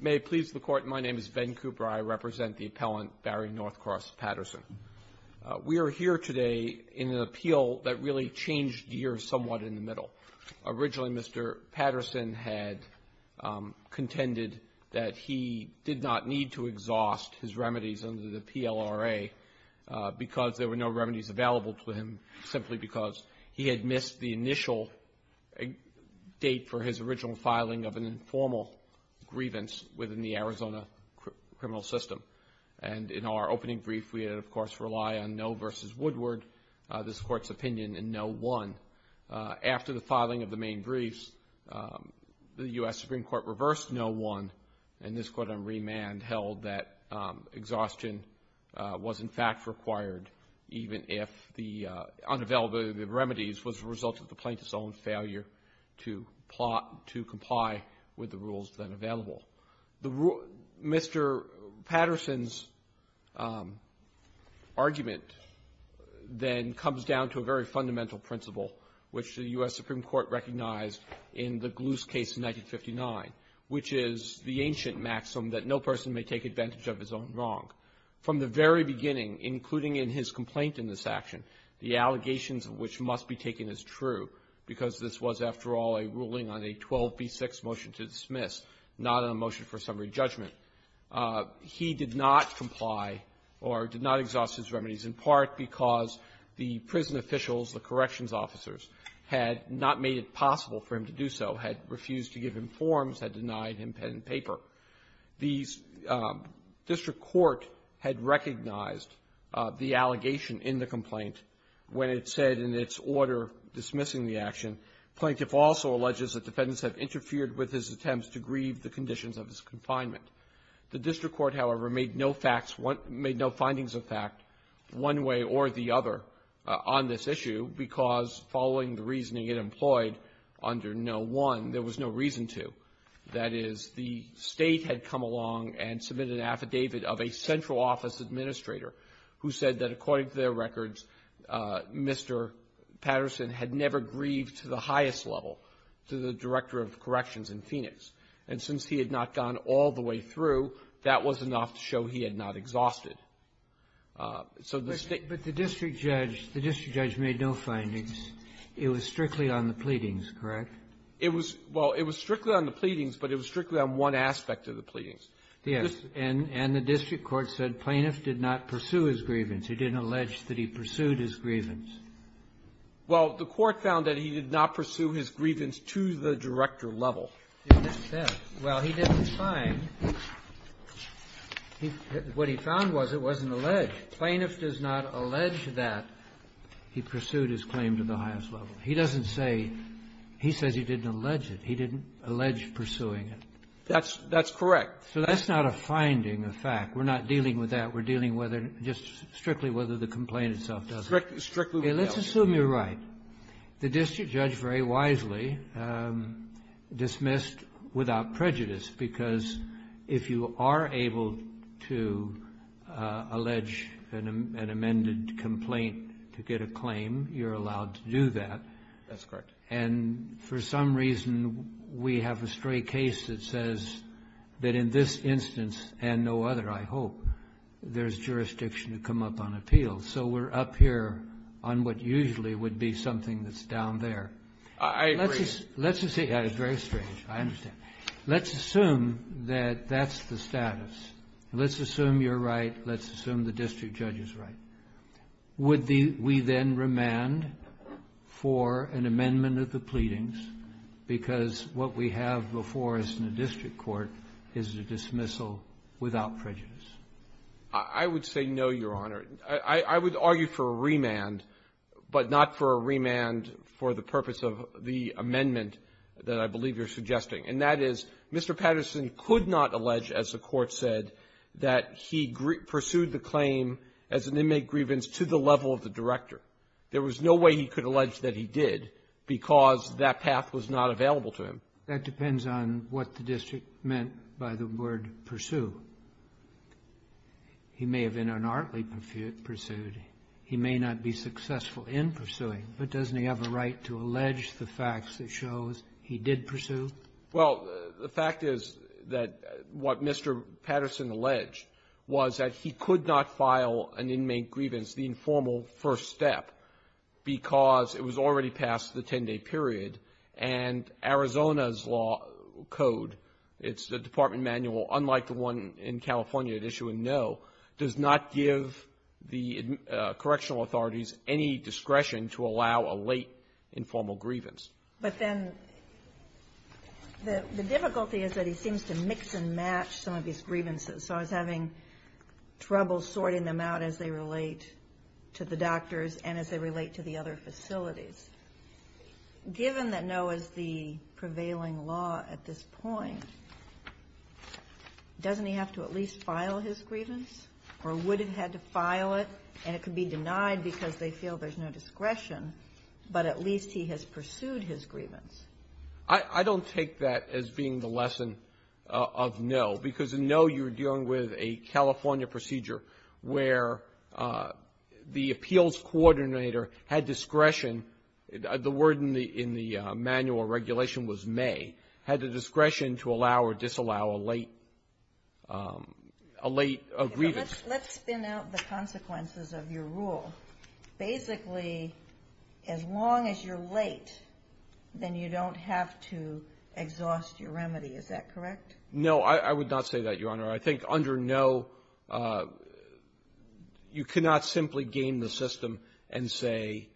May it please the Court, my name is Ben Cooper. I represent the appellant, Barry Northcross Patterson. We are here today in an appeal that really changed the year somewhat in the middle. Originally, Mr. Patterson had contended that he did not need to exhaust his remedies under the PLRA because there were no remedies available to him, simply because he had missed the initial date for his original filing of an informal grievance within the Arizona criminal system. And in our opening brief, we had, of course, relied on no versus Woodward, this Court's opinion, and no one. After the filing of the main briefs, the U.S. Supreme Court reversed no one, and this Court on remand held that exhaustion was, in fact, required even if the unavailability of the remedies was a result of the plaintiff's own failure to plot, to comply with the rules that are available. Mr. Patterson's argument then comes down to a very fundamental principle, which the U.S. Supreme Court recognized in the Gluce case in 1959, which is the ancient maxim that no person may take advantage of his own wrong. From the very beginning, including in his complaint in this action, the allegations of which must be taken as true, because this was, after all, a ruling on a 12b6 motion to dismiss, not a motion for summary judgment, he did not comply or did not exhaust his remedies, in part because the prison officials, the corrections officers, had not made it possible for him to do so, had refused to give him forms, had denied him pen and paper. The district court had recognized the allegation in the complaint when it said in its order dismissing the action, Plaintiff also alleges that defendants have interfered with his attempts to grieve the conditions of his confinement. The district court, however, made no facts, made no findings of fact one way or the other on this issue, because, following the reasoning it employed under No. 1, there was no reason to. That is, the State had come along and submitted an affidavit of a central office administrator who said that, according to their records, Mr. Patterson had never grieved to the highest level to the Director of Corrections in Phoenix. And since he had not gone all the way through, that was enough to show he had not exhausted. So the State — Sotomayor's findings, it was strictly on the pleadings, correct? It was — well, it was strictly on the pleadings, but it was strictly on one aspect of the pleadings. Yes. And the district court said Plaintiff did not pursue his grievance. He didn't allege that he pursued his grievance. Well, the court found that he did not pursue his grievance to the Director level. It didn't say. Well, he didn't find. What he found was it wasn't alleged. Plaintiff does not allege that he pursued his claim to the highest level. He doesn't say — he says he didn't allege it. He didn't allege pursuing it. That's — that's correct. So that's not a finding, a fact. We're not dealing with that. We're dealing whether — just strictly whether the complaint itself does it. Strictly — strictly. Okay. Let's assume you're right. The district judge very wisely dismissed without prejudice, because if you are able to allege an amended complaint to get a claim, you're allowed to do that. That's correct. And for some reason, we have a stray case that says that in this instance and no other, I hope, there's jurisdiction to come up on appeal. So we're up here on what usually would be something that's down there. I agree. Let's just — yeah, it's very strange. I understand. Let's assume that that's the status. Let's assume you're right. Let's assume the district judge is right. Would we then remand for an amendment of the pleadings, because what we have before us in the district court is a dismissal without prejudice? I would say no, Your Honor. I would argue for a remand, but not for a remand for the purpose of the amendment that I believe you're suggesting. And that is, Mr. Patterson could not allege, as the Court said, that he pursued the claim as an inmate grievance to the level of the director. There was no way he could allege that he did, because that path was not available to him. That depends on what the district meant by the word pursue. He may have in an artly pursuit. He may not be successful in pursuing, but doesn't he have a right to allege the facts that shows he did pursue? Well, the fact is that what Mr. Patterson alleged was that he could not file an inmate grievance, the informal first step, because it was already past the 10-day period. And Arizona's law code, it's the Department manual, unlike the one in the California that issue a no, does not give the correctional authorities any discretion to allow a late informal grievance. But then the difficulty is that he seems to mix and match some of these grievances. So I was having trouble sorting them out as they relate to the doctors and as they relate to the other facilities. Given that no is the prevailing law at this point, doesn't he have to at least file his grievance, or would have had to file it, and it could be denied because they feel there's no discretion, but at least he has pursued his grievance? I don't take that as being the lesson of no, because in no, you're dealing with a The word in the manual regulation was may. Had the discretion to allow or disallow a late grievance. Let's spin out the consequences of your rule. Basically, as long as you're late, then you don't have to exhaust your remedy. Is that correct? No. I would not say that, Your Honor. I think under no, you cannot simply game the system and say,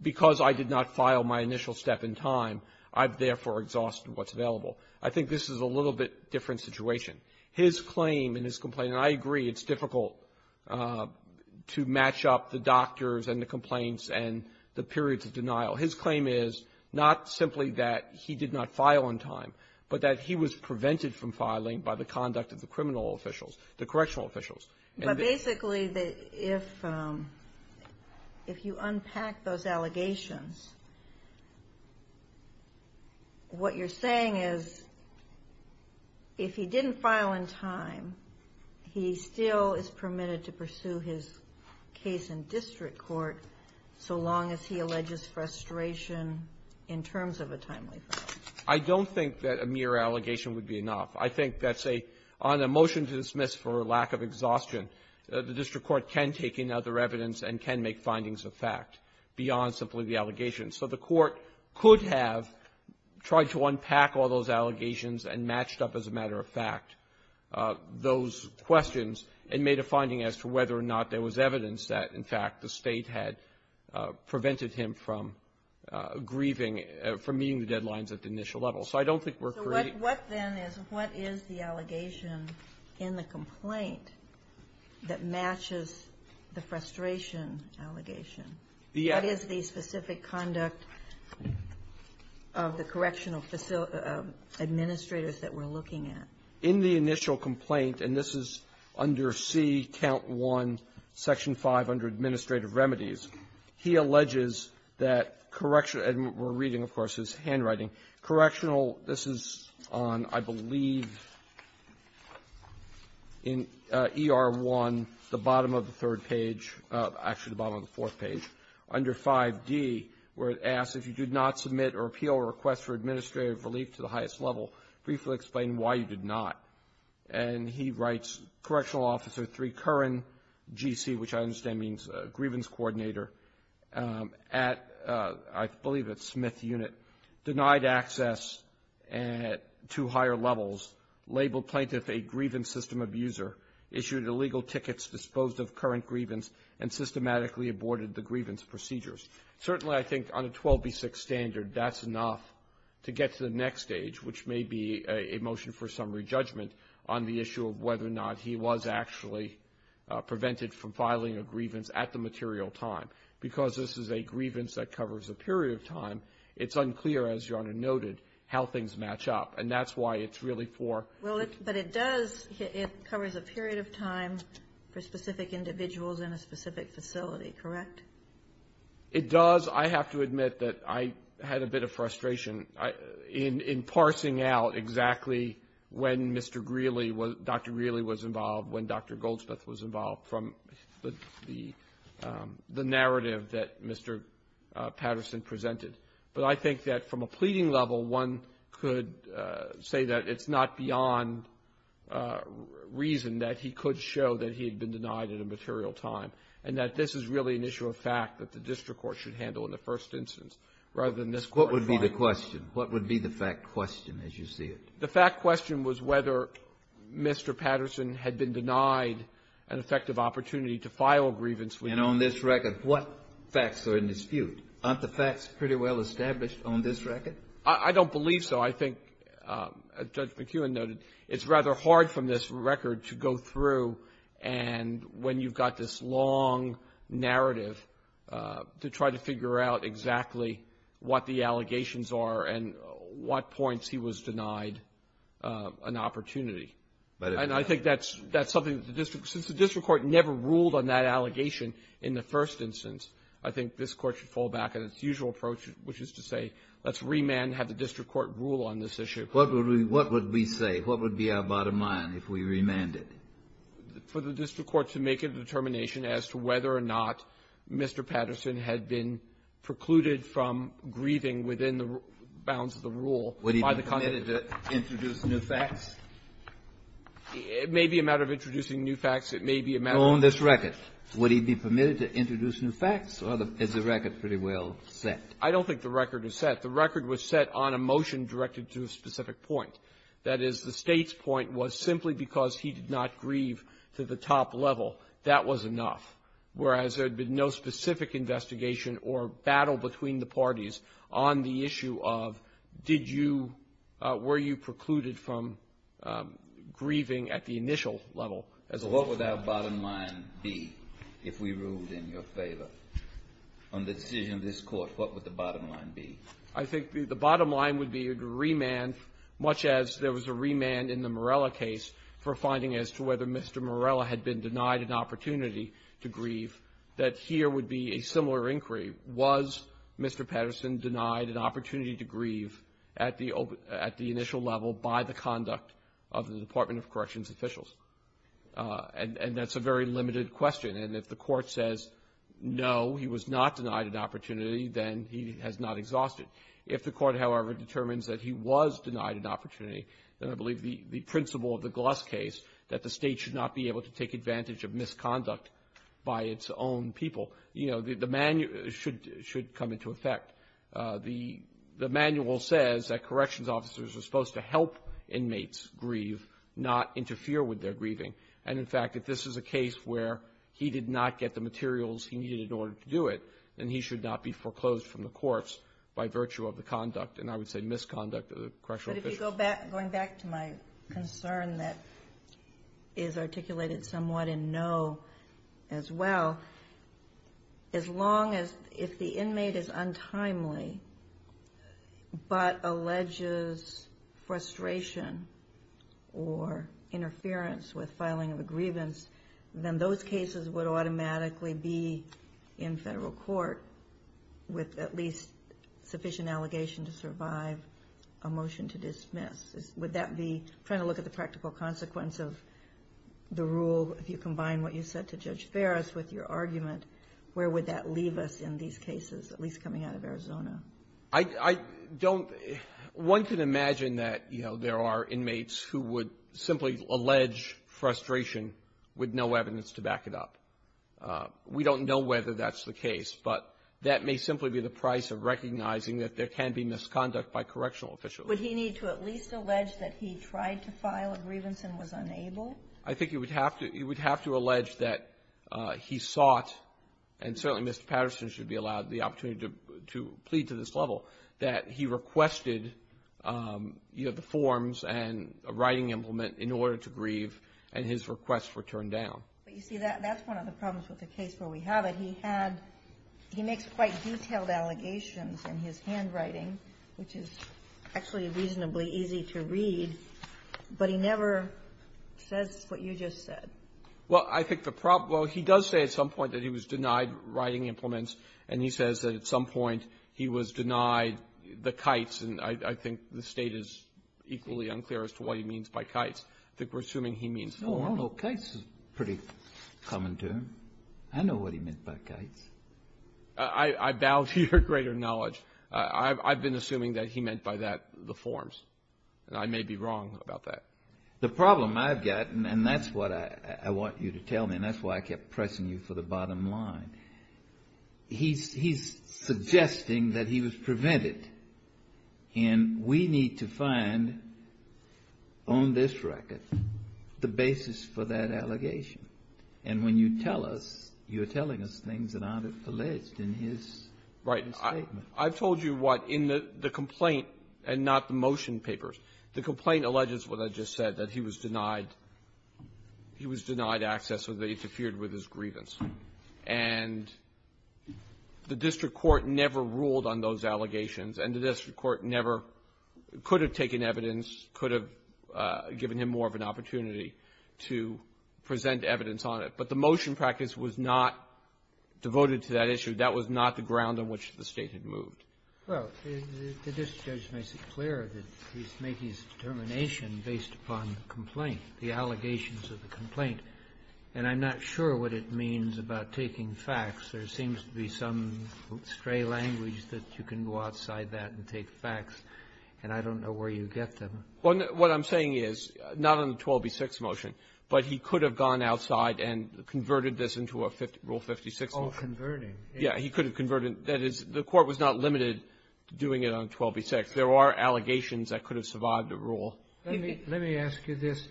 because I did not file my initial step in time, I've therefore exhausted what's available. I think this is a little bit different situation. His claim and his complaint, and I agree, it's difficult to match up the doctors and the complaints and the periods of denial. His claim is not simply that he did not file on time, but that he was prevented from filing by the conduct of the criminal officials, the correctional officials. But basically, if you unpack those allegations, what you're saying is if he didn't file in time, he still is permitted to pursue his case in district court so long as he alleges frustration in terms of a timely filing. I don't think that a mere allegation would be enough. I think that's a — on a motion to dismiss for lack of exhaustion, the district court can take in other evidence and can make findings of fact beyond simply the allegation. So the Court could have tried to unpack all those allegations and matched up, as a matter of fact, those questions and made a finding as to whether or not there was evidence that, in fact, the State had prevented him from grieving — from meeting the deadlines at the initial level. So I don't think we're creating — Ginsburg. So what, then, is — what is the allegation in the complaint that matches the frustration allegation? What is the specific conduct of the correctional administrators that we're looking at? Waxman. In the initial complaint, and this is under C, Count 1, Section 5, under Administrative Remedies, he alleges that correction — and we're reading, of course, his handwriting. Correctional — this is on, I believe, in ER 1, the bottom of the third page — actually, the bottom of the fourth page, under 5d, where it asks, if you did not submit or appeal a request for administrative relief to the highest level, briefly explain why you did not. And he writes, Correctional Officer 3, Curran, G.C., which I understand means grievance coordinator, at — I believe it's Smith Unit, denied access to higher levels, labeled plaintiff a grievance system abuser, issued illegal tickets disposed of current grievance, and systematically aborted the grievance procedures. Certainly, I think, on a 12b6 standard, that's enough to get to the next stage, which may be a motion for summary judgment on the issue of whether or not he was actually prevented from filing a grievance at the material time. Because this is a grievance that covers a period of time, it's unclear, as Your Honor noted, how things match up. And that's why it's really for — Well, it — but it does — it covers a period of time for specific individuals in a specific facility, correct? It does. I have to admit that I had a bit of frustration in parsing out exactly when Mr. Greeley was — Dr. Greeley was involved, when Dr. Goldsmith was involved, from the narrative that Mr. Patterson presented. But I think that from a pleading level, one could say that it's not beyond reason that he could show that he had been denied at a material time, and that this is really an issue of fact that the district court should handle in the first instance, rather than this court filing. What would be the question? What would be the fact question, as you see it? The fact question was whether Mr. Patterson had been denied an effective opportunity to file a grievance with you. And on this record, what facts are in dispute? Aren't the facts pretty well established on this record? I don't believe so. I think, as Judge McKeown noted, it's rather hard from this record to go through and when you've got this long narrative to try to figure out exactly what the allegations are and what points he was denied an opportunity. And I think that's — that's something that the district — since the district court never ruled on that allegation in the first instance, I think this court should fall back on its usual approach, which is to say, let's remand, have the district court rule on this issue. What would we — what would we say? What would be our bottom line if we remanded? For the district court to make a determination as to whether or not Mr. Patterson had been precluded from grieving within the bounds of the rule by the Congress? Would he be permitted to introduce new facts? It may be a matter of introducing new facts. It may be a matter of — On this record, would he be permitted to introduce new facts, or is the record pretty well set? I don't think the record is set. The record was set on a motion directed to a specific point. That is, the State's point was simply because he did not grieve to the top level, that was enough, whereas there had been no specific investigation or battle between the parties on the issue of did you — were you precluded from grieving at the initial level as a law firm. What would our bottom line be if we ruled in your favor? On the decision of this court, what would the bottom line be? I think the bottom line would be a remand, much as there was a remand in the Morella case for finding as to whether Mr. Morella had been denied an opportunity to grieve, that here would be a similar inquiry. Was Mr. Patterson denied an opportunity to grieve at the — at the initial level by the conduct of the Department of Corrections officials? And that's a very limited question. And if the Court says, no, he was not denied an opportunity, then he has not exhausted. If the Court, however, determines that he was denied an opportunity, then I believe the principle of the Gloss case, that the State should not be able to take advantage of misconduct by its own people, you know, the manual should — should come into effect. The manual says that corrections officers are supposed to help inmates grieve, not interfere with their grieving. And, in fact, if this is a case where he did not get the materials he needed in order to do it, then he should not be foreclosed from the courts by virtue of the conduct, and I would say misconduct, of the correctional officials. But if you go back — going back to my concern that is articulated somewhat in no as well, as long as — if the inmate is untimely but alleges frustration or interference with filing of a grievance, then those cases would automatically be in federal court with at least sufficient allegation to survive a motion to dismiss. Would that be — trying to look at the practical consequence of the rule, if you combine what you said to Judge Ferris with your argument, where would that leave us in these cases, at least coming out of Arizona? I don't — one can imagine that, you know, there are inmates who would simply allege frustration with no evidence to back it up. We don't know whether that's the case, but that may simply be the price of recognizing that there can be misconduct by correctional officials. Would he need to at least allege that he tried to file a grievance and was unable? I think he would have to — he would have to allege that he sought — and certainly Mr. Patterson should be allowed the opportunity to plead to this level — that he requested, you know, the forms and a writing implement in order to grieve, and his requests were turned down. But you see, that's one of the problems with the case where we have it. He had — he makes quite detailed allegations in his handwriting, which is actually reasonably easy to read, but he never says what you just said. Well, I think the problem — well, he does say at some point that he was denied writing implements, and he says that at some point he was denied the kites, and I think the State is equally unclear as to what he means by kites. I think we're assuming he means the formal. Well, kites is a pretty common term. I know what he meant by kites. I bow to your greater knowledge. I've been assuming that he meant by that the forms, and I may be wrong about that. The problem I've got, and that's what I want you to tell me, and that's why I kept pressing you for the bottom line, he's suggesting that he was prevented, and we need to find on this record the basis for that allegation. And when you tell us, you're telling us things that aren't alleged in his statement. Right. I've told you what, in the complaint, and not the motion papers, the complaint alleges what I just said, that he was denied access or that he interfered with his grievance. And the district court never ruled on those allegations, and the district court never could have taken evidence, could have given him more of an opportunity to present evidence on it. But the motion practice was not devoted to that issue. That was not the ground on which the State had moved. Well, the district judge makes it clear that he's making his determination based upon the complaint, the allegations of the complaint. And I'm not sure what it means about taking facts. There seems to be some stray language that you can go outside that and take facts, and I don't know where you get them. Well, what I'm saying is, not on the 12b-6 motion, but he could have gone outside and converted this into a Rule 56 motion. Oh, converting. Yeah. He could have converted. That is, the court was not limited to doing it on 12b-6. There are allegations that could have survived a rule. Let me ask you this.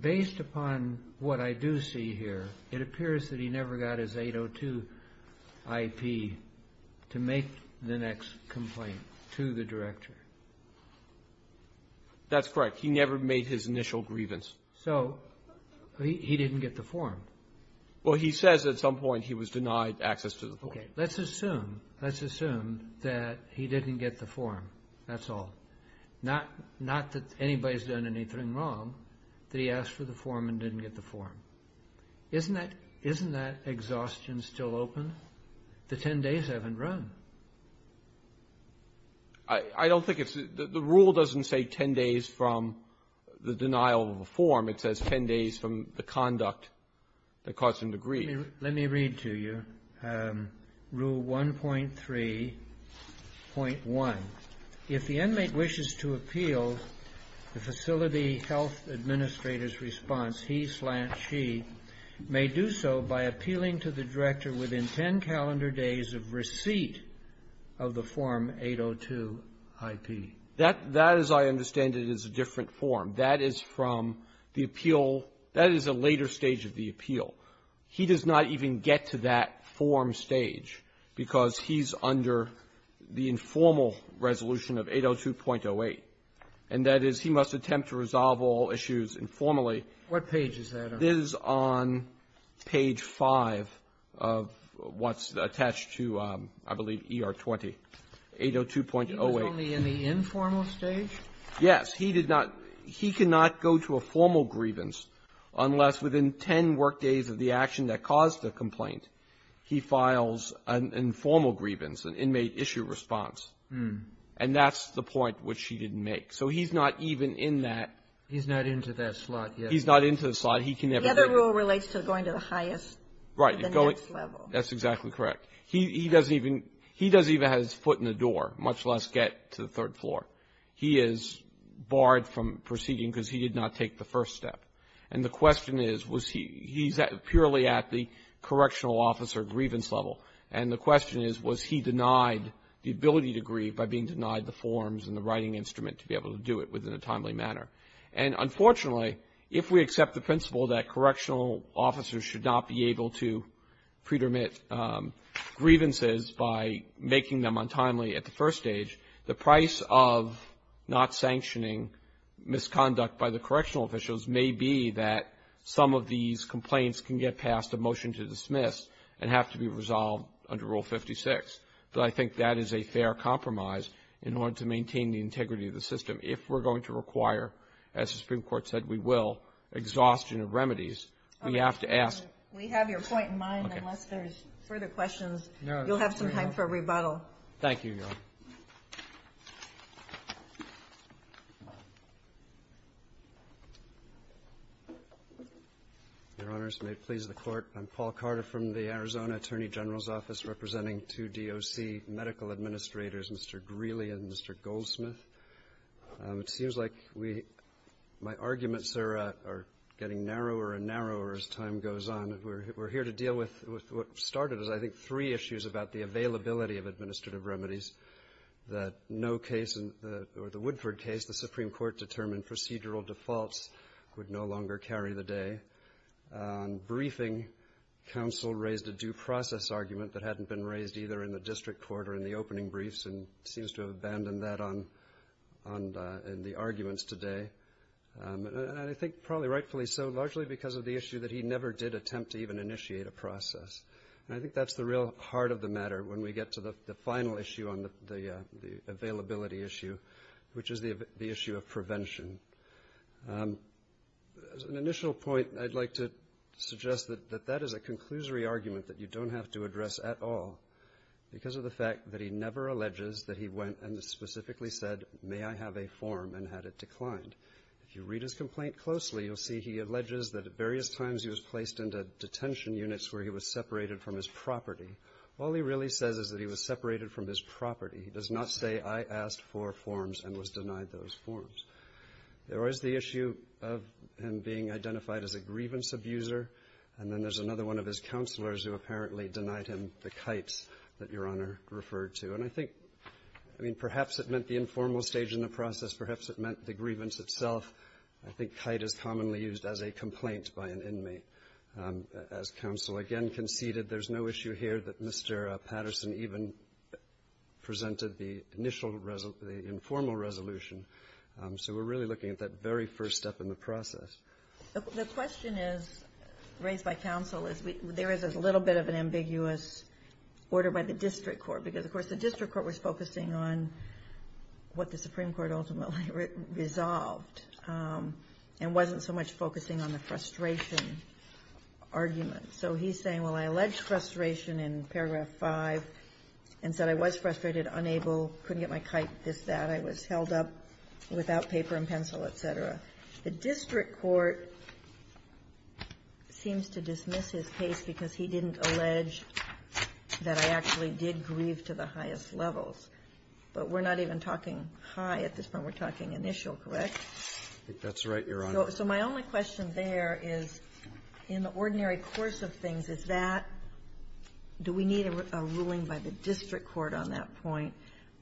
Based upon what I do see here, it appears that he never got his 802-IP to make the next complaint to the director. That's correct. He never made his initial grievance. So he didn't get the form. Well, he says at some point he was denied access to the form. Okay. Let's assume, let's assume that he didn't get the form. That's all. Not that anybody's done anything wrong, that he asked for the form and didn't get the form. Isn't that exhaustion still open? The 10 days haven't run. I don't think it's the rule doesn't say 10 days from the denial of the form. It says 10 days from the conduct that caused him to grieve. Let me read to you Rule 1.3.1. If the inmate wishes to appeal the facility health administrator's response, he slant she, may do so by appealing to the director within 10 calendar days of receipt of the Form 802-IP. That, as I understand it, is a different form. That is from the appeal. That is a later stage of the appeal. He does not even get to that form stage because he's under the informal resolution of 802.08. And that is he must attempt to resolve all issues informally. What page is that on? It is on page 5 of what's attached to, I believe, ER 20, 802.08. He was only in the informal stage? Yes. He did not, he cannot go to a formal grievance unless within 10 work days of the action that caused the complaint, he files an informal grievance, an inmate issue response. And that's the point which he didn't make. So he's not even in that. He's not into that slot yet. He's not into the slot. He can never get. The other rule relates to going to the highest, the next level. That's exactly correct. He doesn't even, he doesn't even have his foot in the door, much less get to the third floor. He is barred from proceeding because he did not take the first step. And the question is, was he, he's purely at the correctional officer grievance level. And the question is, was he denied the ability to grieve by being denied the forms and the writing instrument to be able to do it within a timely manner? And unfortunately, if we accept the principle that correctional officers should not be able to pre-dermit grievances by making them untimely at the first stage, the price of not sanctioning misconduct by the correctional officials may be that some of these complaints can get past a motion to dismiss and have to be resolved under Rule 56. But I think that is a fair compromise in order to maintain the integrity of the system. If we're going to require, as the Supreme Court said we will, exhaustion of remedies, we have to ask. We have your point in mind. Unless there's further questions, you'll have some time for rebuttal. Thank you, Your Honor. Your Honors, may it please the Court. I'm Paul Carter from the Arizona Attorney General's Office representing two DOC medical administrators, Mr. Greeley and Mr. Goldsmith. It seems like my arguments are getting narrower and narrower as time goes on. We're here to deal with what started as, I think, three issues about the availability of administrative remedies that no case or the Woodford case, the Supreme Court determined procedural defaults would no longer carry the day. On briefing, counsel raised a due process argument that hadn't been raised either in the district court or in the opening briefs and seems to have abandoned that on the arguments today. And I think probably rightfully so, largely because of the issue that he never did attempt to even initiate a process. And I think that's the real heart of the matter when we get to the final issue on the availability issue, which is the issue of prevention. As an initial point, I'd like to suggest that that is a conclusory argument that you don't have to address at all because of the fact that he never alleges that he went and specifically said, may I have a form and had it declined. If you read his complaint closely, you'll see he alleges that at various times he was placed into detention units where he was separated from his property. All he really says is that he was separated from his property. He does not say, I asked for forms and was denied those forms. There was the issue of him being identified as a grievance abuser, and then there's another one of his counselors who apparently denied him the kites that Your Honor referred to. And I think, I mean, perhaps it meant the informal stage in the process. Perhaps it meant the grievance itself. I think kite is commonly used as a complaint by an inmate. As counsel again conceded, there's no issue here that Mr. Patterson even presented the initial, the informal resolution. So we're really looking at that very first step in the process. The question is, raised by counsel, is there is a little bit of an ambiguous order by the district court, because of course the district court was focusing on what the Supreme Court ultimately resolved, and wasn't so much focusing on the frustration argument. So he's saying, well, I allege frustration in paragraph five, and said I was frustrated, unable, couldn't get my kite, this, that. I was held up without paper and pencil, et cetera. The district court seems to dismiss his case because he didn't allege that I actually did grieve to the highest levels. But we're not even talking high at this point. We're talking initial, correct? That's right, Your Honor. So my only question there is, in the ordinary course of things, is that, do we need a ruling by the district court on that point,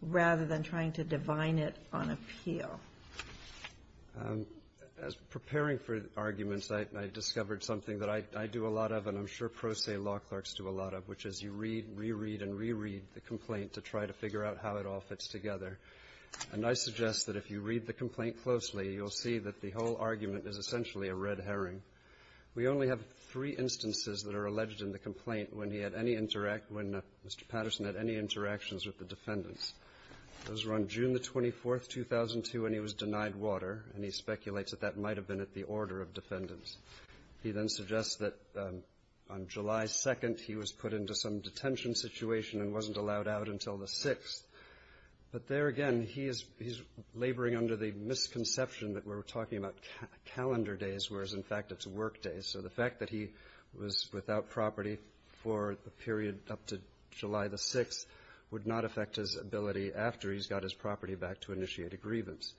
rather than trying to divine it on appeal? As preparing for arguments, I discovered something that I do a lot of, and I'm sure pro se law clerks do a lot of, which is you read, re-read, and re-read the complaint to try to figure out how it all fits together. And I suggest that if you read the complaint closely, you'll see that the whole argument is essentially a red herring. We only have three instances that are alleged in the complaint when Mr. Patterson had any interactions with the defendants. Those were on June the 24th, 2002, when he was denied water, and he speculates that that might have been at the order of defendants. He then suggests that on July 2nd, he was put into some detention situation and wasn't allowed out until the 6th. But there again, he's laboring under the misconception that we're talking about calendar days, whereas in fact it's work days. So the fact that he was without property for the period up to July the 6th would not affect his ability after he's got his property back to initiate a grievance.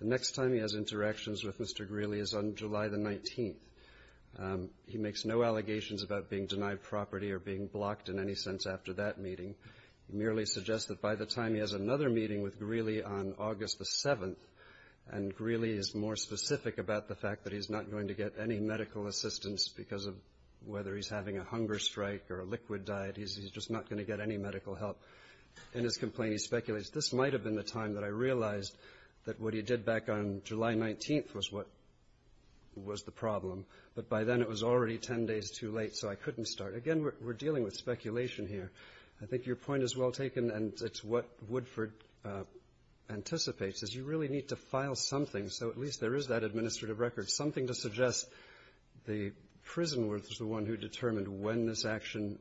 The next time he has interactions with Mr. Greeley is on July the 19th. He makes no allegations about being denied property or being blocked in any sense after that meeting. He merely suggests that by the time he has another meeting with Greeley on August the 7th, and Greeley is more specific about the fact that he's not going to get any medical assistance because of whether he's having a hunger strike or a liquid diet. He's just not going to get any medical help. In his complaint, he speculates, this might have been the time that I realized that what he did back on July 19th was what was the problem. But by then, it was already ten days too late, so I couldn't start. Again, we're dealing with speculation here. I think your point is well taken, and it's what Woodford anticipates, is you really need to file something, so at least there is that administrative record, something to suggest the prison was the one who determined when this was going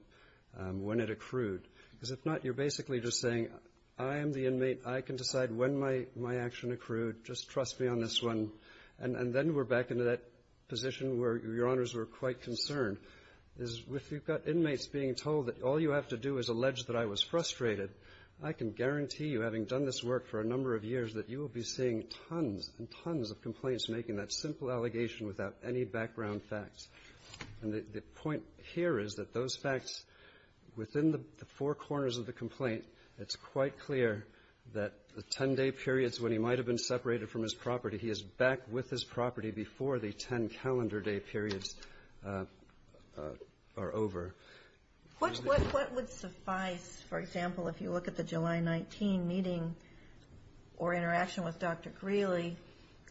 to happen, and you're basically just saying, I am the inmate. I can decide when my action accrued. Just trust me on this one. And then we're back into that position where your honors were quite concerned, is if you've got inmates being told that all you have to do is allege that I was frustrated, I can guarantee you, having done this work for a number of years, that you will be seeing tons and tons of complaints making that simple allegation without any background facts. And the point here is that those facts, within the four corners of the complaint, it's quite clear that the ten-day periods when he might have been separated from his property, he is back with his property before the ten calendar day periods are over. What would suffice, for example, if you look at the July 19 meeting or interaction with Dr. Greeley,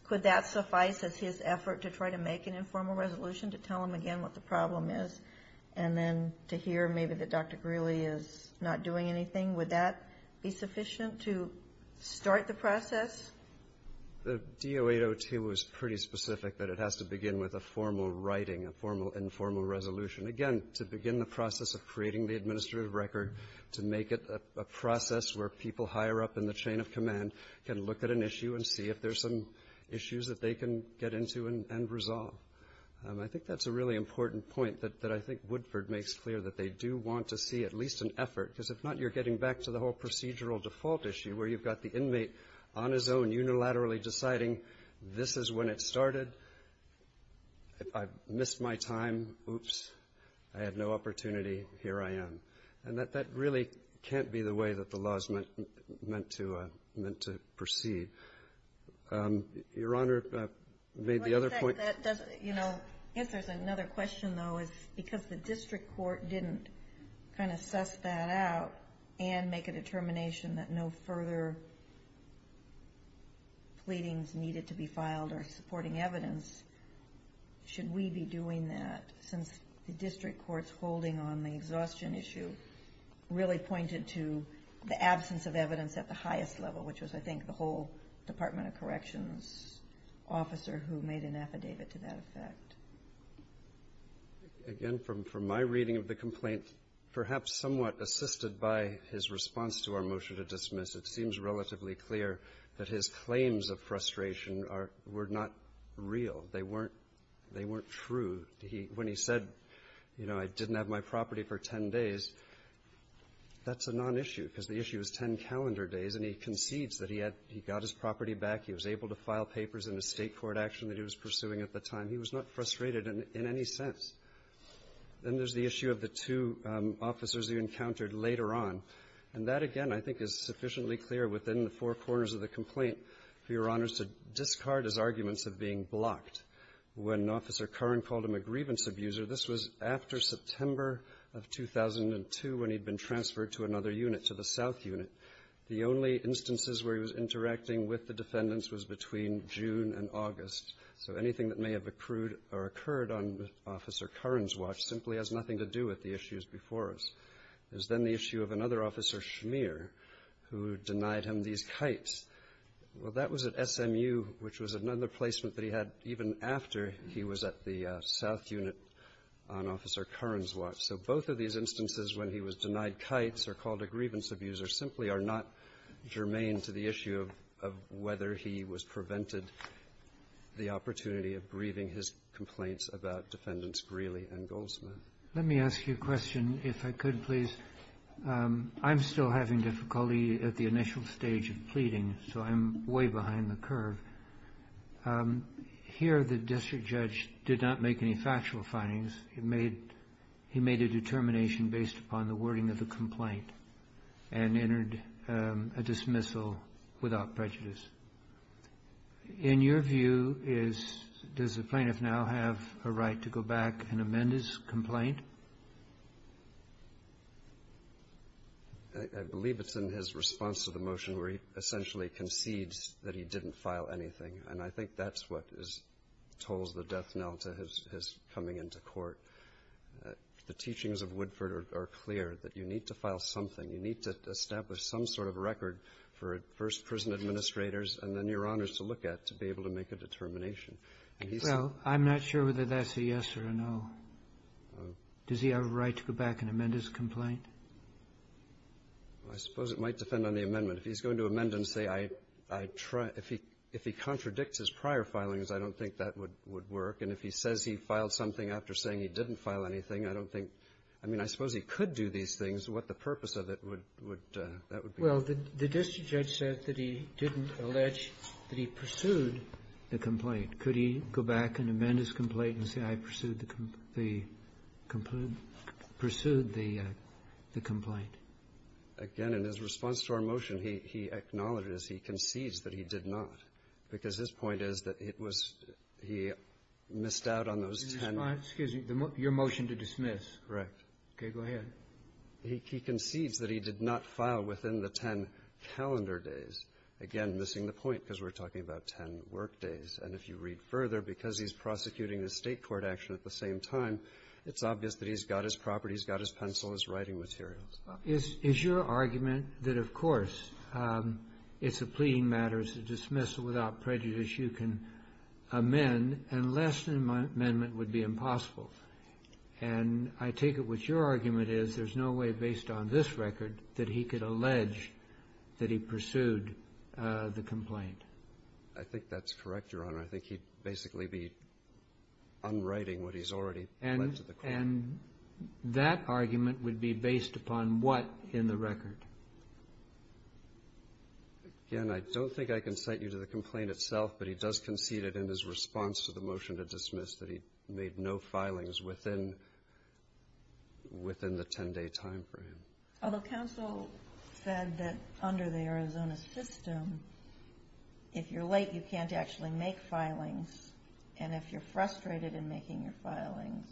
could that suffice as his effort to try to make an effort to tell him again what the problem is, and then to hear maybe that Dr. Greeley is not doing anything? Would that be sufficient to start the process? The DO-802 was pretty specific that it has to begin with a formal writing, a formal, informal resolution. Again, to begin the process of creating the administrative record, to make it a process where people higher up in the chain of command can look at an issue and see if there's some issues that they can get into and resolve. I think that's a really important point that I think Woodford makes clear, that they do want to see at least an effort. Because if not, you're getting back to the whole procedural default issue, where you've got the inmate on his own, unilaterally deciding, this is when it started. I've missed my time. Oops. I had no opportunity. Here I am. And that really can't be the way that the law is meant to proceed. Your Honor, if I may, the other point- One thing that doesn't, you know, if there's another question, though, is because the district court didn't kind of suss that out and make a determination that no further pleadings needed to be filed or supporting evidence, should we be doing that since the district court's holding on the exhaustion issue really pointed to the absence of evidence at the highest level, which was, I think, the whole Department of Corrections officer who made an affidavit to that effect. Again, from my reading of the complaint, perhaps somewhat assisted by his response to our motion to dismiss, it seems relatively clear that his claims of frustration were not real. They weren't true. When he said, you know, I didn't have my property for 10 days, that's a non-issue because the issue is 10 calendar days. And he concedes that he had, he got his property back. He was able to file papers in a state court action that he was pursuing at the time. He was not frustrated in any sense. Then there's the issue of the two officers you encountered later on. And that, again, I think is sufficiently clear within the four corners of the complaint for your honors to discard his arguments of being blocked. When Officer Curran called him a grievance abuser, this was after September of 2002 when he'd been transferred to another unit, to the south unit. The only instances where he was interacting with the defendants was between June and August. So anything that may have accrued or occurred on Officer Curran's watch simply has nothing to do with the issues before us. There's then the issue of another officer, Schmier, who denied him these kites. Well, that was at SMU, which was another placement that he had even after he was at the south unit on Officer Curran's watch. So both of these instances when he was denied kites are called a grievance abuser, simply are not germane to the issue of whether he was prevented the opportunity of grieving his complaints about Defendants Greeley and Goldsmith. Let me ask you a question, if I could, please. I'm still having difficulty at the initial stage of pleading, so I'm way behind the curve. Here, the district judge did not make any factual findings. He made a determination based upon the wording of the complaint. And entered a dismissal without prejudice. In your view, does the plaintiff now have a right to go back and amend his complaint? I believe it's in his response to the motion where he essentially concedes that he didn't file anything, and I think that's what tolls the death knell to his coming into court, the teachings of Woodford are clear, that you need to file something. You need to establish some sort of record for first prison administrators, and then your honors to look at to be able to make a determination. And he said. Well, I'm not sure whether that's a yes or a no. Does he have a right to go back and amend his complaint? I suppose it might depend on the amendment. If he's going to amend and say, I try, if he contradicts his prior filings, I don't think that would work. And if he says he filed something after saying he didn't file anything, I don't think – I mean, I suppose he could do these things. What the purpose of it would – that would be. Well, the district judge said that he didn't allege that he pursued the complaint. Could he go back and amend his complaint and say, I pursued the complaint? Again, in his response to our motion, he acknowledged it as he concedes that he did not, because his point is that it was – he missed out on those ten – In his response – excuse me, your motion to dismiss. Correct. Okay. Go ahead. He concedes that he did not file within the ten calendar days. Again, missing the point, because we're talking about ten work days. And if you read further, because he's prosecuting a State court action at the same time, it's obvious that he's got his property, he's got his pencil, his writing materials. Is your argument that, of course, it's a pleading matter, it's a dismissal without prejudice, you can amend, and less than an amendment would be impossible? And I take it what your argument is, there's no way based on this record that he could allege that he pursued the complaint. I think that's correct, Your Honor. I think he'd basically be unwriting what he's already pledged to the court. And that argument would be based upon what in the record? Again, I don't think I can cite you to the complaint itself, but he does concede it in his response to the motion to dismiss that he made no filings within the ten-day timeframe. Although counsel said that under the Arizona system, if you're late, you can't actually make filings, and if you're frustrated in making your filings,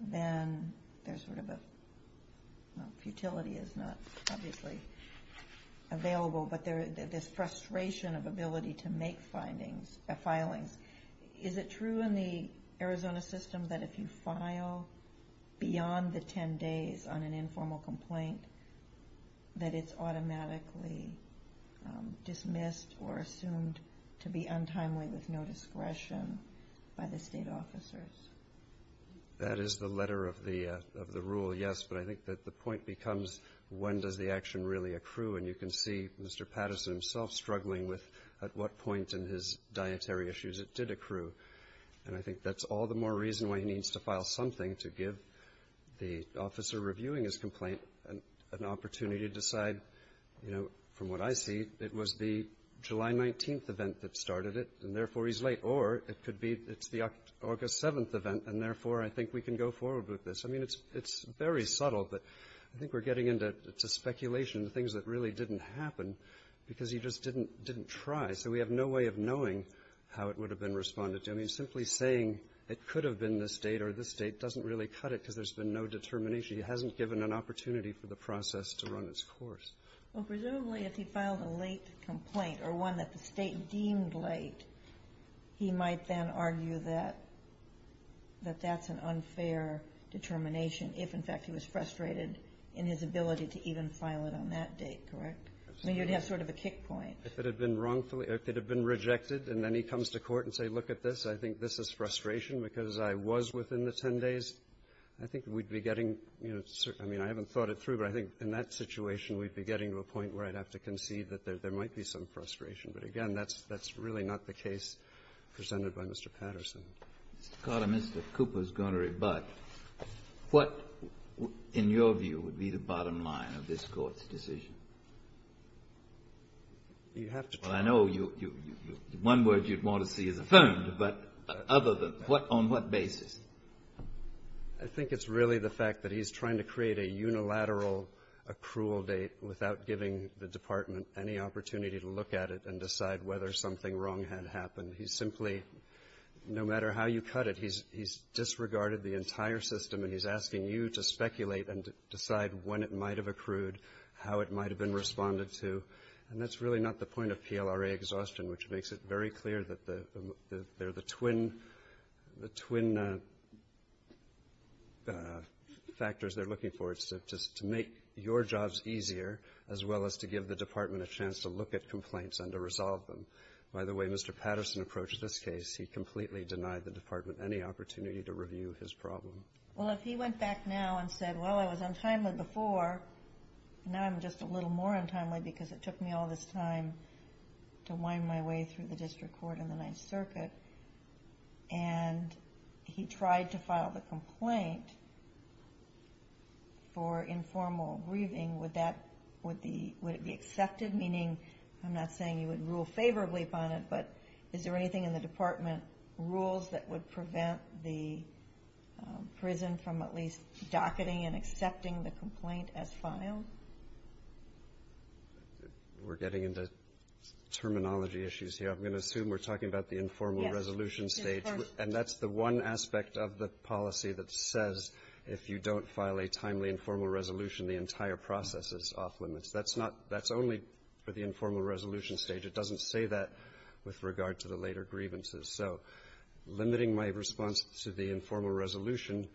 then there's sort of a, well, futility is not obviously available, but there's frustration of ability to make filings. Is it true in the Arizona system that if you file beyond the ten days on an untimely with no discretion by the state officers? That is the letter of the rule, yes, but I think that the point becomes when does the action really accrue? And you can see Mr. Patterson himself struggling with at what point in his dietary issues it did accrue. And I think that's all the more reason why he needs to file something to give the officer reviewing his complaint an opportunity to decide, you know, from what I see, it was the July 19th event that started it, and therefore he's late. Or it could be it's the August 7th event, and therefore I think we can go forward with this. I mean, it's very subtle, but I think we're getting into it's a speculation of things that really didn't happen because he just didn't try. So we have no way of knowing how it would have been responded to. I mean, simply saying it could have been this date or this date doesn't really cut it because there's been no determination. He hasn't given an opportunity for the process to run its course. Well, presumably if he filed a late complaint or one that the State deemed late, he might then argue that that's an unfair determination if, in fact, he was frustrated in his ability to even file it on that date, correct? I mean, you'd have sort of a kick point. If it had been wrongfully, if it had been rejected and then he comes to court and say, look at this, I think this is frustration because I was within the 10 days, I think we'd be getting, you know, I mean, I haven't thought it through, but I think in that situation we'd be getting to a point where I'd have to concede that there might be some frustration. But again, that's really not the case presented by Mr. Patterson. Mr. Carter, Mr. Cooper is going to rebut. What, in your view, would be the bottom line of this Court's decision? You have to tell me. Well, I know one word you'd want to see is affirmed, but other than what, on what basis? I think it's really the fact that he's trying to create a unilateral accrual date without giving the department any opportunity to look at it and decide whether something wrong had happened. He's simply, no matter how you cut it, he's disregarded the entire system and he's asking you to speculate and decide when it might have accrued, how it might have been responded to. And that's really not the point of PLRA exhaustion, which makes it very clear that they're the twin factors they're looking for, to make your jobs easier, as well as to give the department a chance to look at complaints and to resolve them. By the way, Mr. Patterson approached this case, he completely denied the department any opportunity to review his problem. Well, if he went back now and said, well, I was untimely before, now I'm just a little more untimely because it took me all this time to wind my way through the Ninth Circuit, and he tried to file the complaint for informal grieving, would that, would it be accepted? Meaning, I'm not saying you would rule favorably upon it, but is there anything in the department rules that would prevent the prison from at least docketing and accepting the complaint as filed? We're getting into terminology issues here. I'm going to assume we're talking about the informal resolution stage. And that's the one aspect of the policy that says, if you don't file a timely informal resolution, the entire process is off limits. That's not, that's only for the informal resolution stage. It doesn't say that with regard to the later grievances. So limiting my response to the informal resolution,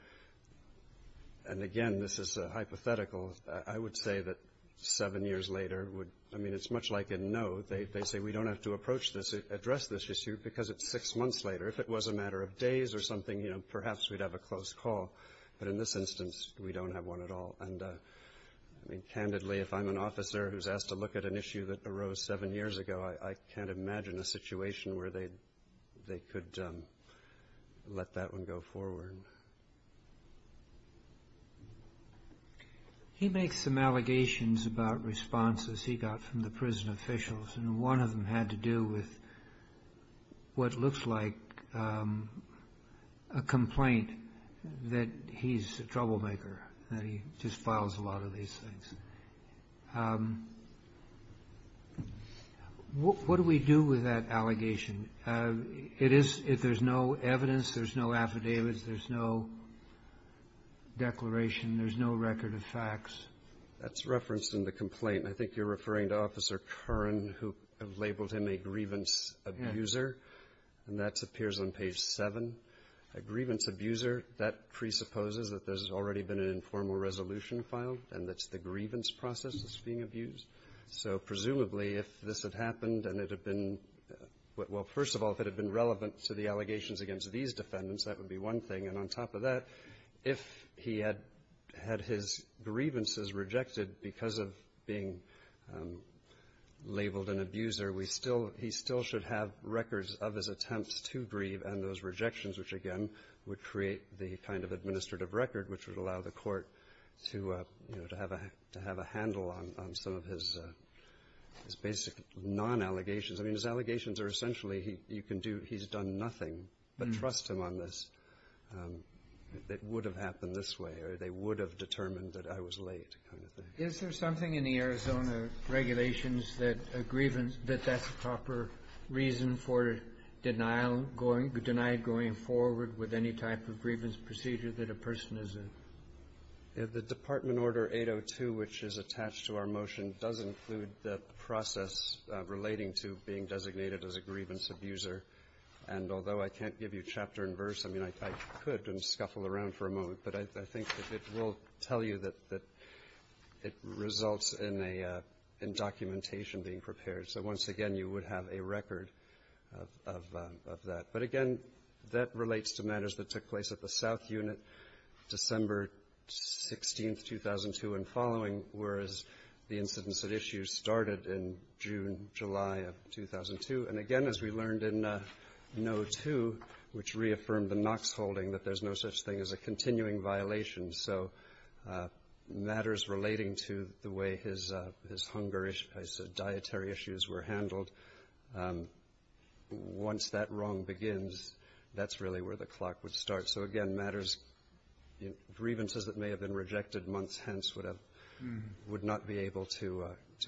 and again, this is a hypothetical, I would say that seven years later would, I mean, it's much like a no, they say we don't have to approach this, address this issue, because it's six months later. If it was a matter of days or something, you know, perhaps we'd have a close call. But in this instance, we don't have one at all. And I mean, candidly, if I'm an officer who's asked to look at an issue that arose seven years ago, I can't imagine a situation where they, they could let that one go forward. He makes some allegations about responses he got from the prison officials, and one of them had to do with what looks like a complaint that he's a troublemaker, that he just files a lot of these things. What do we do with that allegation? It is, if there's no evidence, there's no affidavits, there's no declaration, there's no record of facts. That's referenced in the complaint. I think you're referring to Officer Curran, who labeled him a grievance abuser, and that appears on page seven. A grievance abuser, that presupposes that there's already been an informal resolution filed, and that's the grievance process that's being abused. So presumably, if this had happened and it had been, well, first of all, if it had been relevant to the allegations against these defendants, that would be one thing. And on top of that, if he had had his grievances rejected because of being labeled an abuser, we still, he still should have records of his attempts to grieve and those rejections, which again, would create the kind of administrative record which would allow the court to, you know, to have a handle on some of his basic non-allegations. I mean, his allegations are essentially, you can do, he's done nothing, but trust him on this, that would have happened this way, or they would have determined that I was late, kind of thing. Is there something in the Arizona regulations that a grievance, that that's a proper reason for denial going, denied going forward with any type of grievance procedure that a person is in? The Department Order 802, which is attached to our motion, does include the process relating to being designated as a grievance abuser. And although I can't give you chapter and verse, I mean, I could and scuffle around for a moment, but I think it will tell you that it results in documentation being prepared. So once again, you would have a record of that. But again, that relates to matters that took place at the South Unit, December 16th, 2002 and following, whereas the incidents at issue started in June, July of 2002. And again, as we learned in note two, which reaffirmed the Knox holding, that there's no such thing as a continuing violation. So matters relating to the way his hunger, his dietary issues were handled, once that wrong begins, that's really where the clock would start. So again, matters, grievances that may have been rejected months hence would have, would not be able to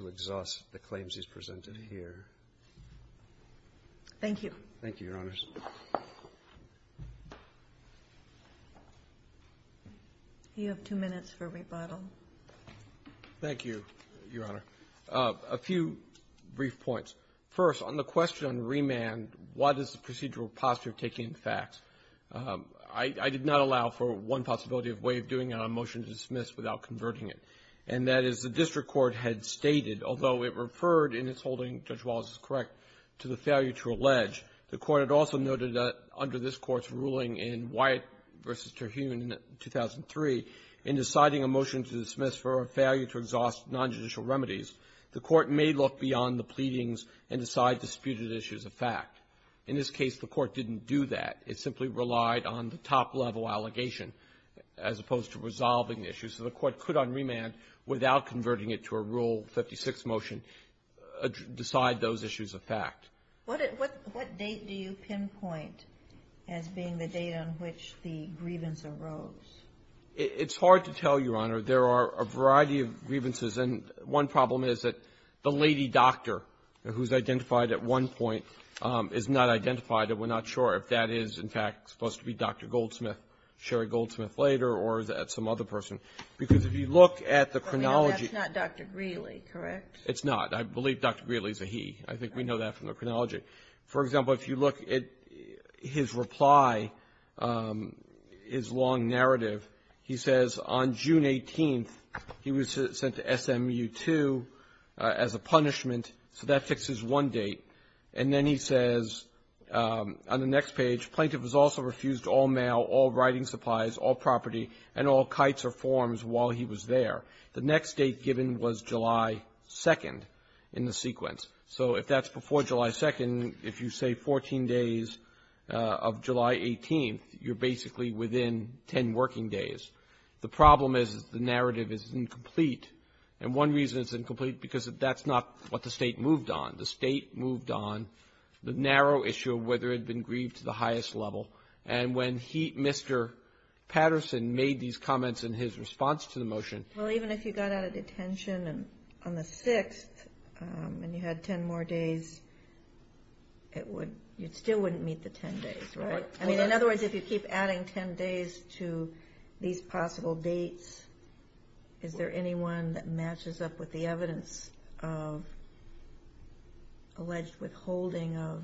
exhaust the claims he's presented here. Thank you. Thank you, Your Honors. You have two minutes for rebuttal. Thank you, Your Honor. A few brief points. First, on the question on remand, what is the procedural posture of taking facts? I did not allow for one possibility of way of doing it on a motion to dismiss without converting it. In addition to the failure to allege, the Court had also noted that under this Court's ruling in Wyatt v. Terhune in 2003, in deciding a motion to dismiss for a failure to exhaust nonjudicial remedies, the Court may look beyond the pleadings and decide disputed issues of fact. In this case, the Court didn't do that. It simply relied on the top-level allegation as opposed to resolving the issue. So the Court could on remand, without converting it to a Rule 56 motion, decide those issues of fact. What date do you pinpoint as being the date on which the grievance arose? It's hard to tell, Your Honor. There are a variety of grievances. And one problem is that the lady doctor, who's identified at one point, is not identified. And we're not sure if that is, in fact, supposed to be Dr. Goldsmith, Sherry Goldsmith later, or some other person. Because if you look at the chronology ---- But that's not Dr. Greeley, correct? It's not. I believe Dr. Greeley is a he. I think we know that from the chronology. For example, if you look at his reply, his long narrative, he says, on June 18th, he was sent to SMU-2 as a punishment. So that fixes one date. And then he says on the next page, Plaintiff has also refused all mail, all writing supplies, all property, and all kites or forms while he was there. The next date given was July 2nd in the sequence. So if that's before July 2nd, if you say 14 days of July 18th, you're basically within 10 working days. The problem is the narrative is incomplete. And one reason it's incomplete, because that's not what the State moved on. The State moved on the narrow issue of whether it had been grieved to the highest level. And when he, Mr. Patterson, made these comments in his response to the motion ---- 10 more days, it still wouldn't meet the 10 days, right? I mean, in other words, if you keep adding 10 days to these possible dates, is there anyone that matches up with the evidence of alleged withholding of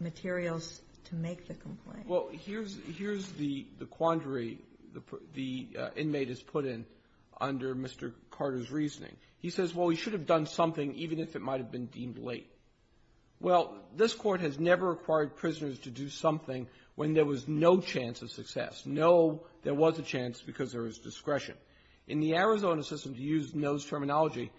materials to make the complaint? Well, here's the quandary the inmate has put in under Mr. Carter's reasoning. He says, well, we should have done something even if it might have been deemed late. Well, this Court has never required prisoners to do something when there was no chance of success. No, there was a chance because there was discretion. In the Arizona system, to use Noe's terminology,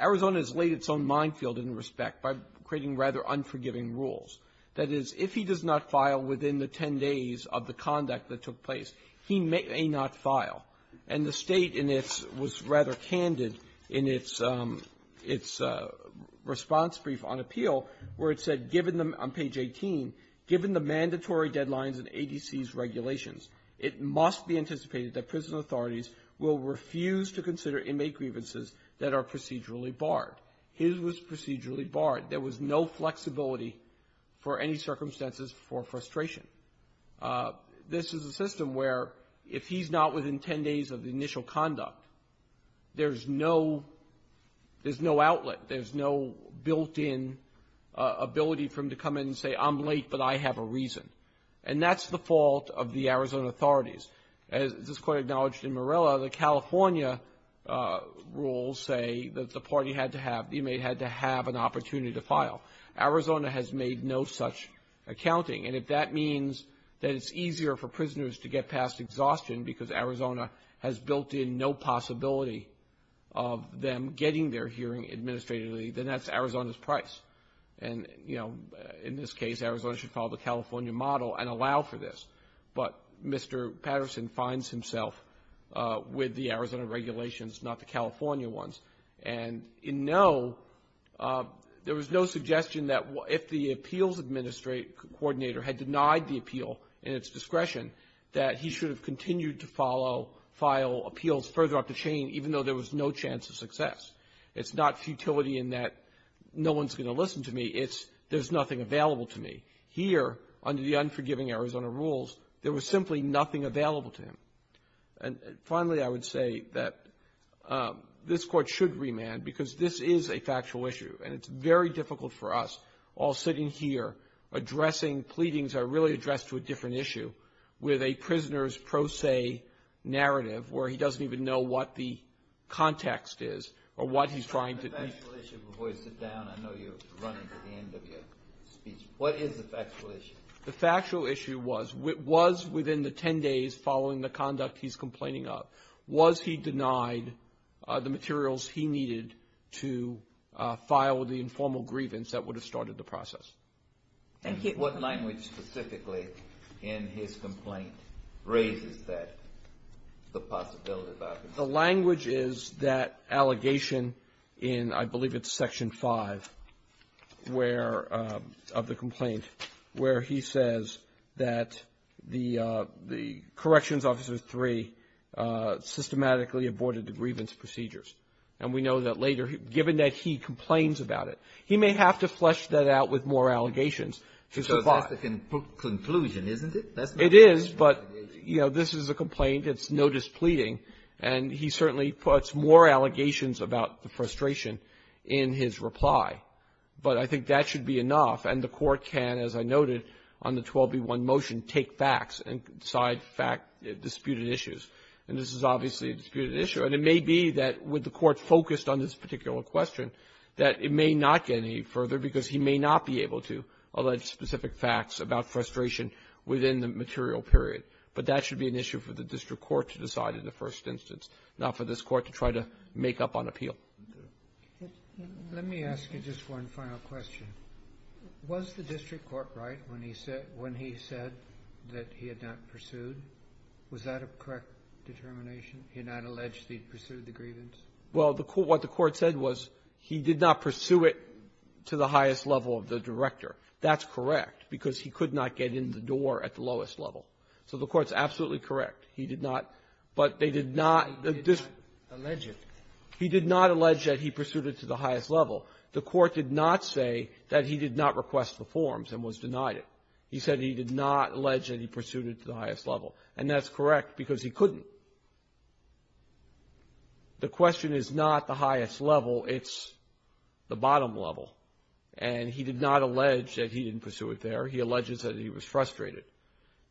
Arizona has laid its own minefield in respect by creating rather unforgiving rules. That is, if he does not file within the 10 days of the conduct that took place, he may not file. And the State in its ---- was rather candid in its response brief on appeal where it said, given the ---- on page 18, given the mandatory deadlines in ADC's regulations, it must be anticipated that prison authorities will refuse to consider inmate grievances that are procedurally barred. His was procedurally barred. There was no flexibility for any circumstances for frustration. This is a system where if he's not within 10 days of the initial conduct, there's no outlet. There's no built-in ability for him to come in and say, I'm late, but I have a reason. And that's the fault of the Arizona authorities. As this Court acknowledged in Morella, the California rules say that the party had to have, the inmate had to have an opportunity to file. Arizona has made no such accounting. And if that means that it's easier for prisoners to get past exhaustion because Arizona has built in no possibility of them getting their hearing administratively, then that's Arizona's price. And, you know, in this case, Arizona should follow the California model and allow for this. But Mr. Patterson finds himself with the Arizona regulations, not the California ones. And in no, there was no suggestion that if the appeals administrator had denied the appeal in its discretion, that he should have continued to follow, file appeals further up the chain, even though there was no chance of success. It's not futility in that no one's going to listen to me. It's there's nothing available to me. Here, under the unforgiving Arizona rules, there was simply nothing available to him. And finally, I would say that this Court should remand because this is a factual issue. And it's very difficult for us, all sitting here, addressing pleadings that are really addressed to a different issue with a prisoner's pro se narrative where he doesn't even know what the context is or what he's trying to do. Breyer. The factual issue, before you sit down, I know you're running to the end of your speech. What is the factual issue? The factual issue was, was within the 10 days following the conduct he's complaining of, was he denied the materials he needed to file the informal grievance that would have started the process? Thank you. What language specifically in his complaint raises that, the possibility of that? The language is that allegation in, I believe it's Section 5, where, of the complaint, where he says that the, the Corrections Officer 3 systematically aborted the grievance procedures. And we know that later, given that he complains about it, he may have to flesh that out with more allegations to survive. Because that's the conclusion, isn't it? It is, but, you know, this is a complaint. It's no displeading. And he certainly puts more allegations about the frustration in his reply. But I think that should be enough, and the Court can, as I noted on the 12b1 motion, take facts and side fact disputed issues. And this is obviously a disputed issue. And it may be that with the Court focused on this particular question, that it may not get any further because he may not be able to allege specific facts about frustration within the material period. But that should be an issue for the district court to decide in the first instance, not for this Court to try to make up on appeal. Let me ask you just one final question. Was the district court right when he said that he had not pursued? Was that a correct determination? He had not alleged he'd pursued the grievance? Well, what the Court said was he did not pursue it to the highest level of the director. That's correct, because he could not get in the door at the lowest level. So the Court's absolutely correct. He did not. But they did not. He did not allege it. He did not allege that he pursued it to the highest level. The Court did not say that he did not request the forms and was denied it. He said he did not allege that he pursued it to the highest level. And that's correct, because he couldn't. The question is not the highest level. It's the bottom level. And he did not allege that he didn't pursue it there. He alleges that he was frustrated.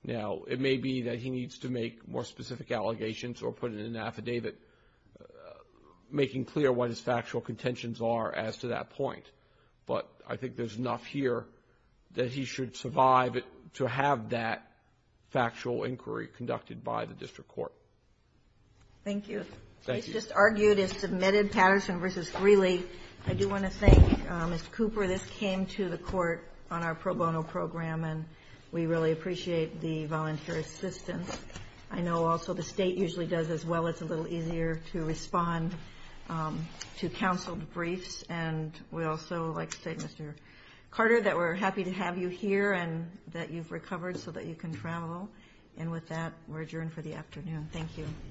Now, it may be that he needs to make more specific allegations or put in an affidavit making clear what his factual contentions are as to that point. But I think there's enough here that he should survive to have that factual inquiry conducted by the district court. Thank you. Thank you. I just argued and submitted Patterson v. Greeley. I do want to thank Mr. Cooper. This came to the Court on our pro bono program, and we really appreciate the volunteer assistance. I know also the state usually does as well. It's a little easier to respond to counseled briefs. And we'd also like to thank Mr. Carter, that we're happy to have you here, and that you've recovered so that you can travel. And with that, we're adjourned for the afternoon. Thank you.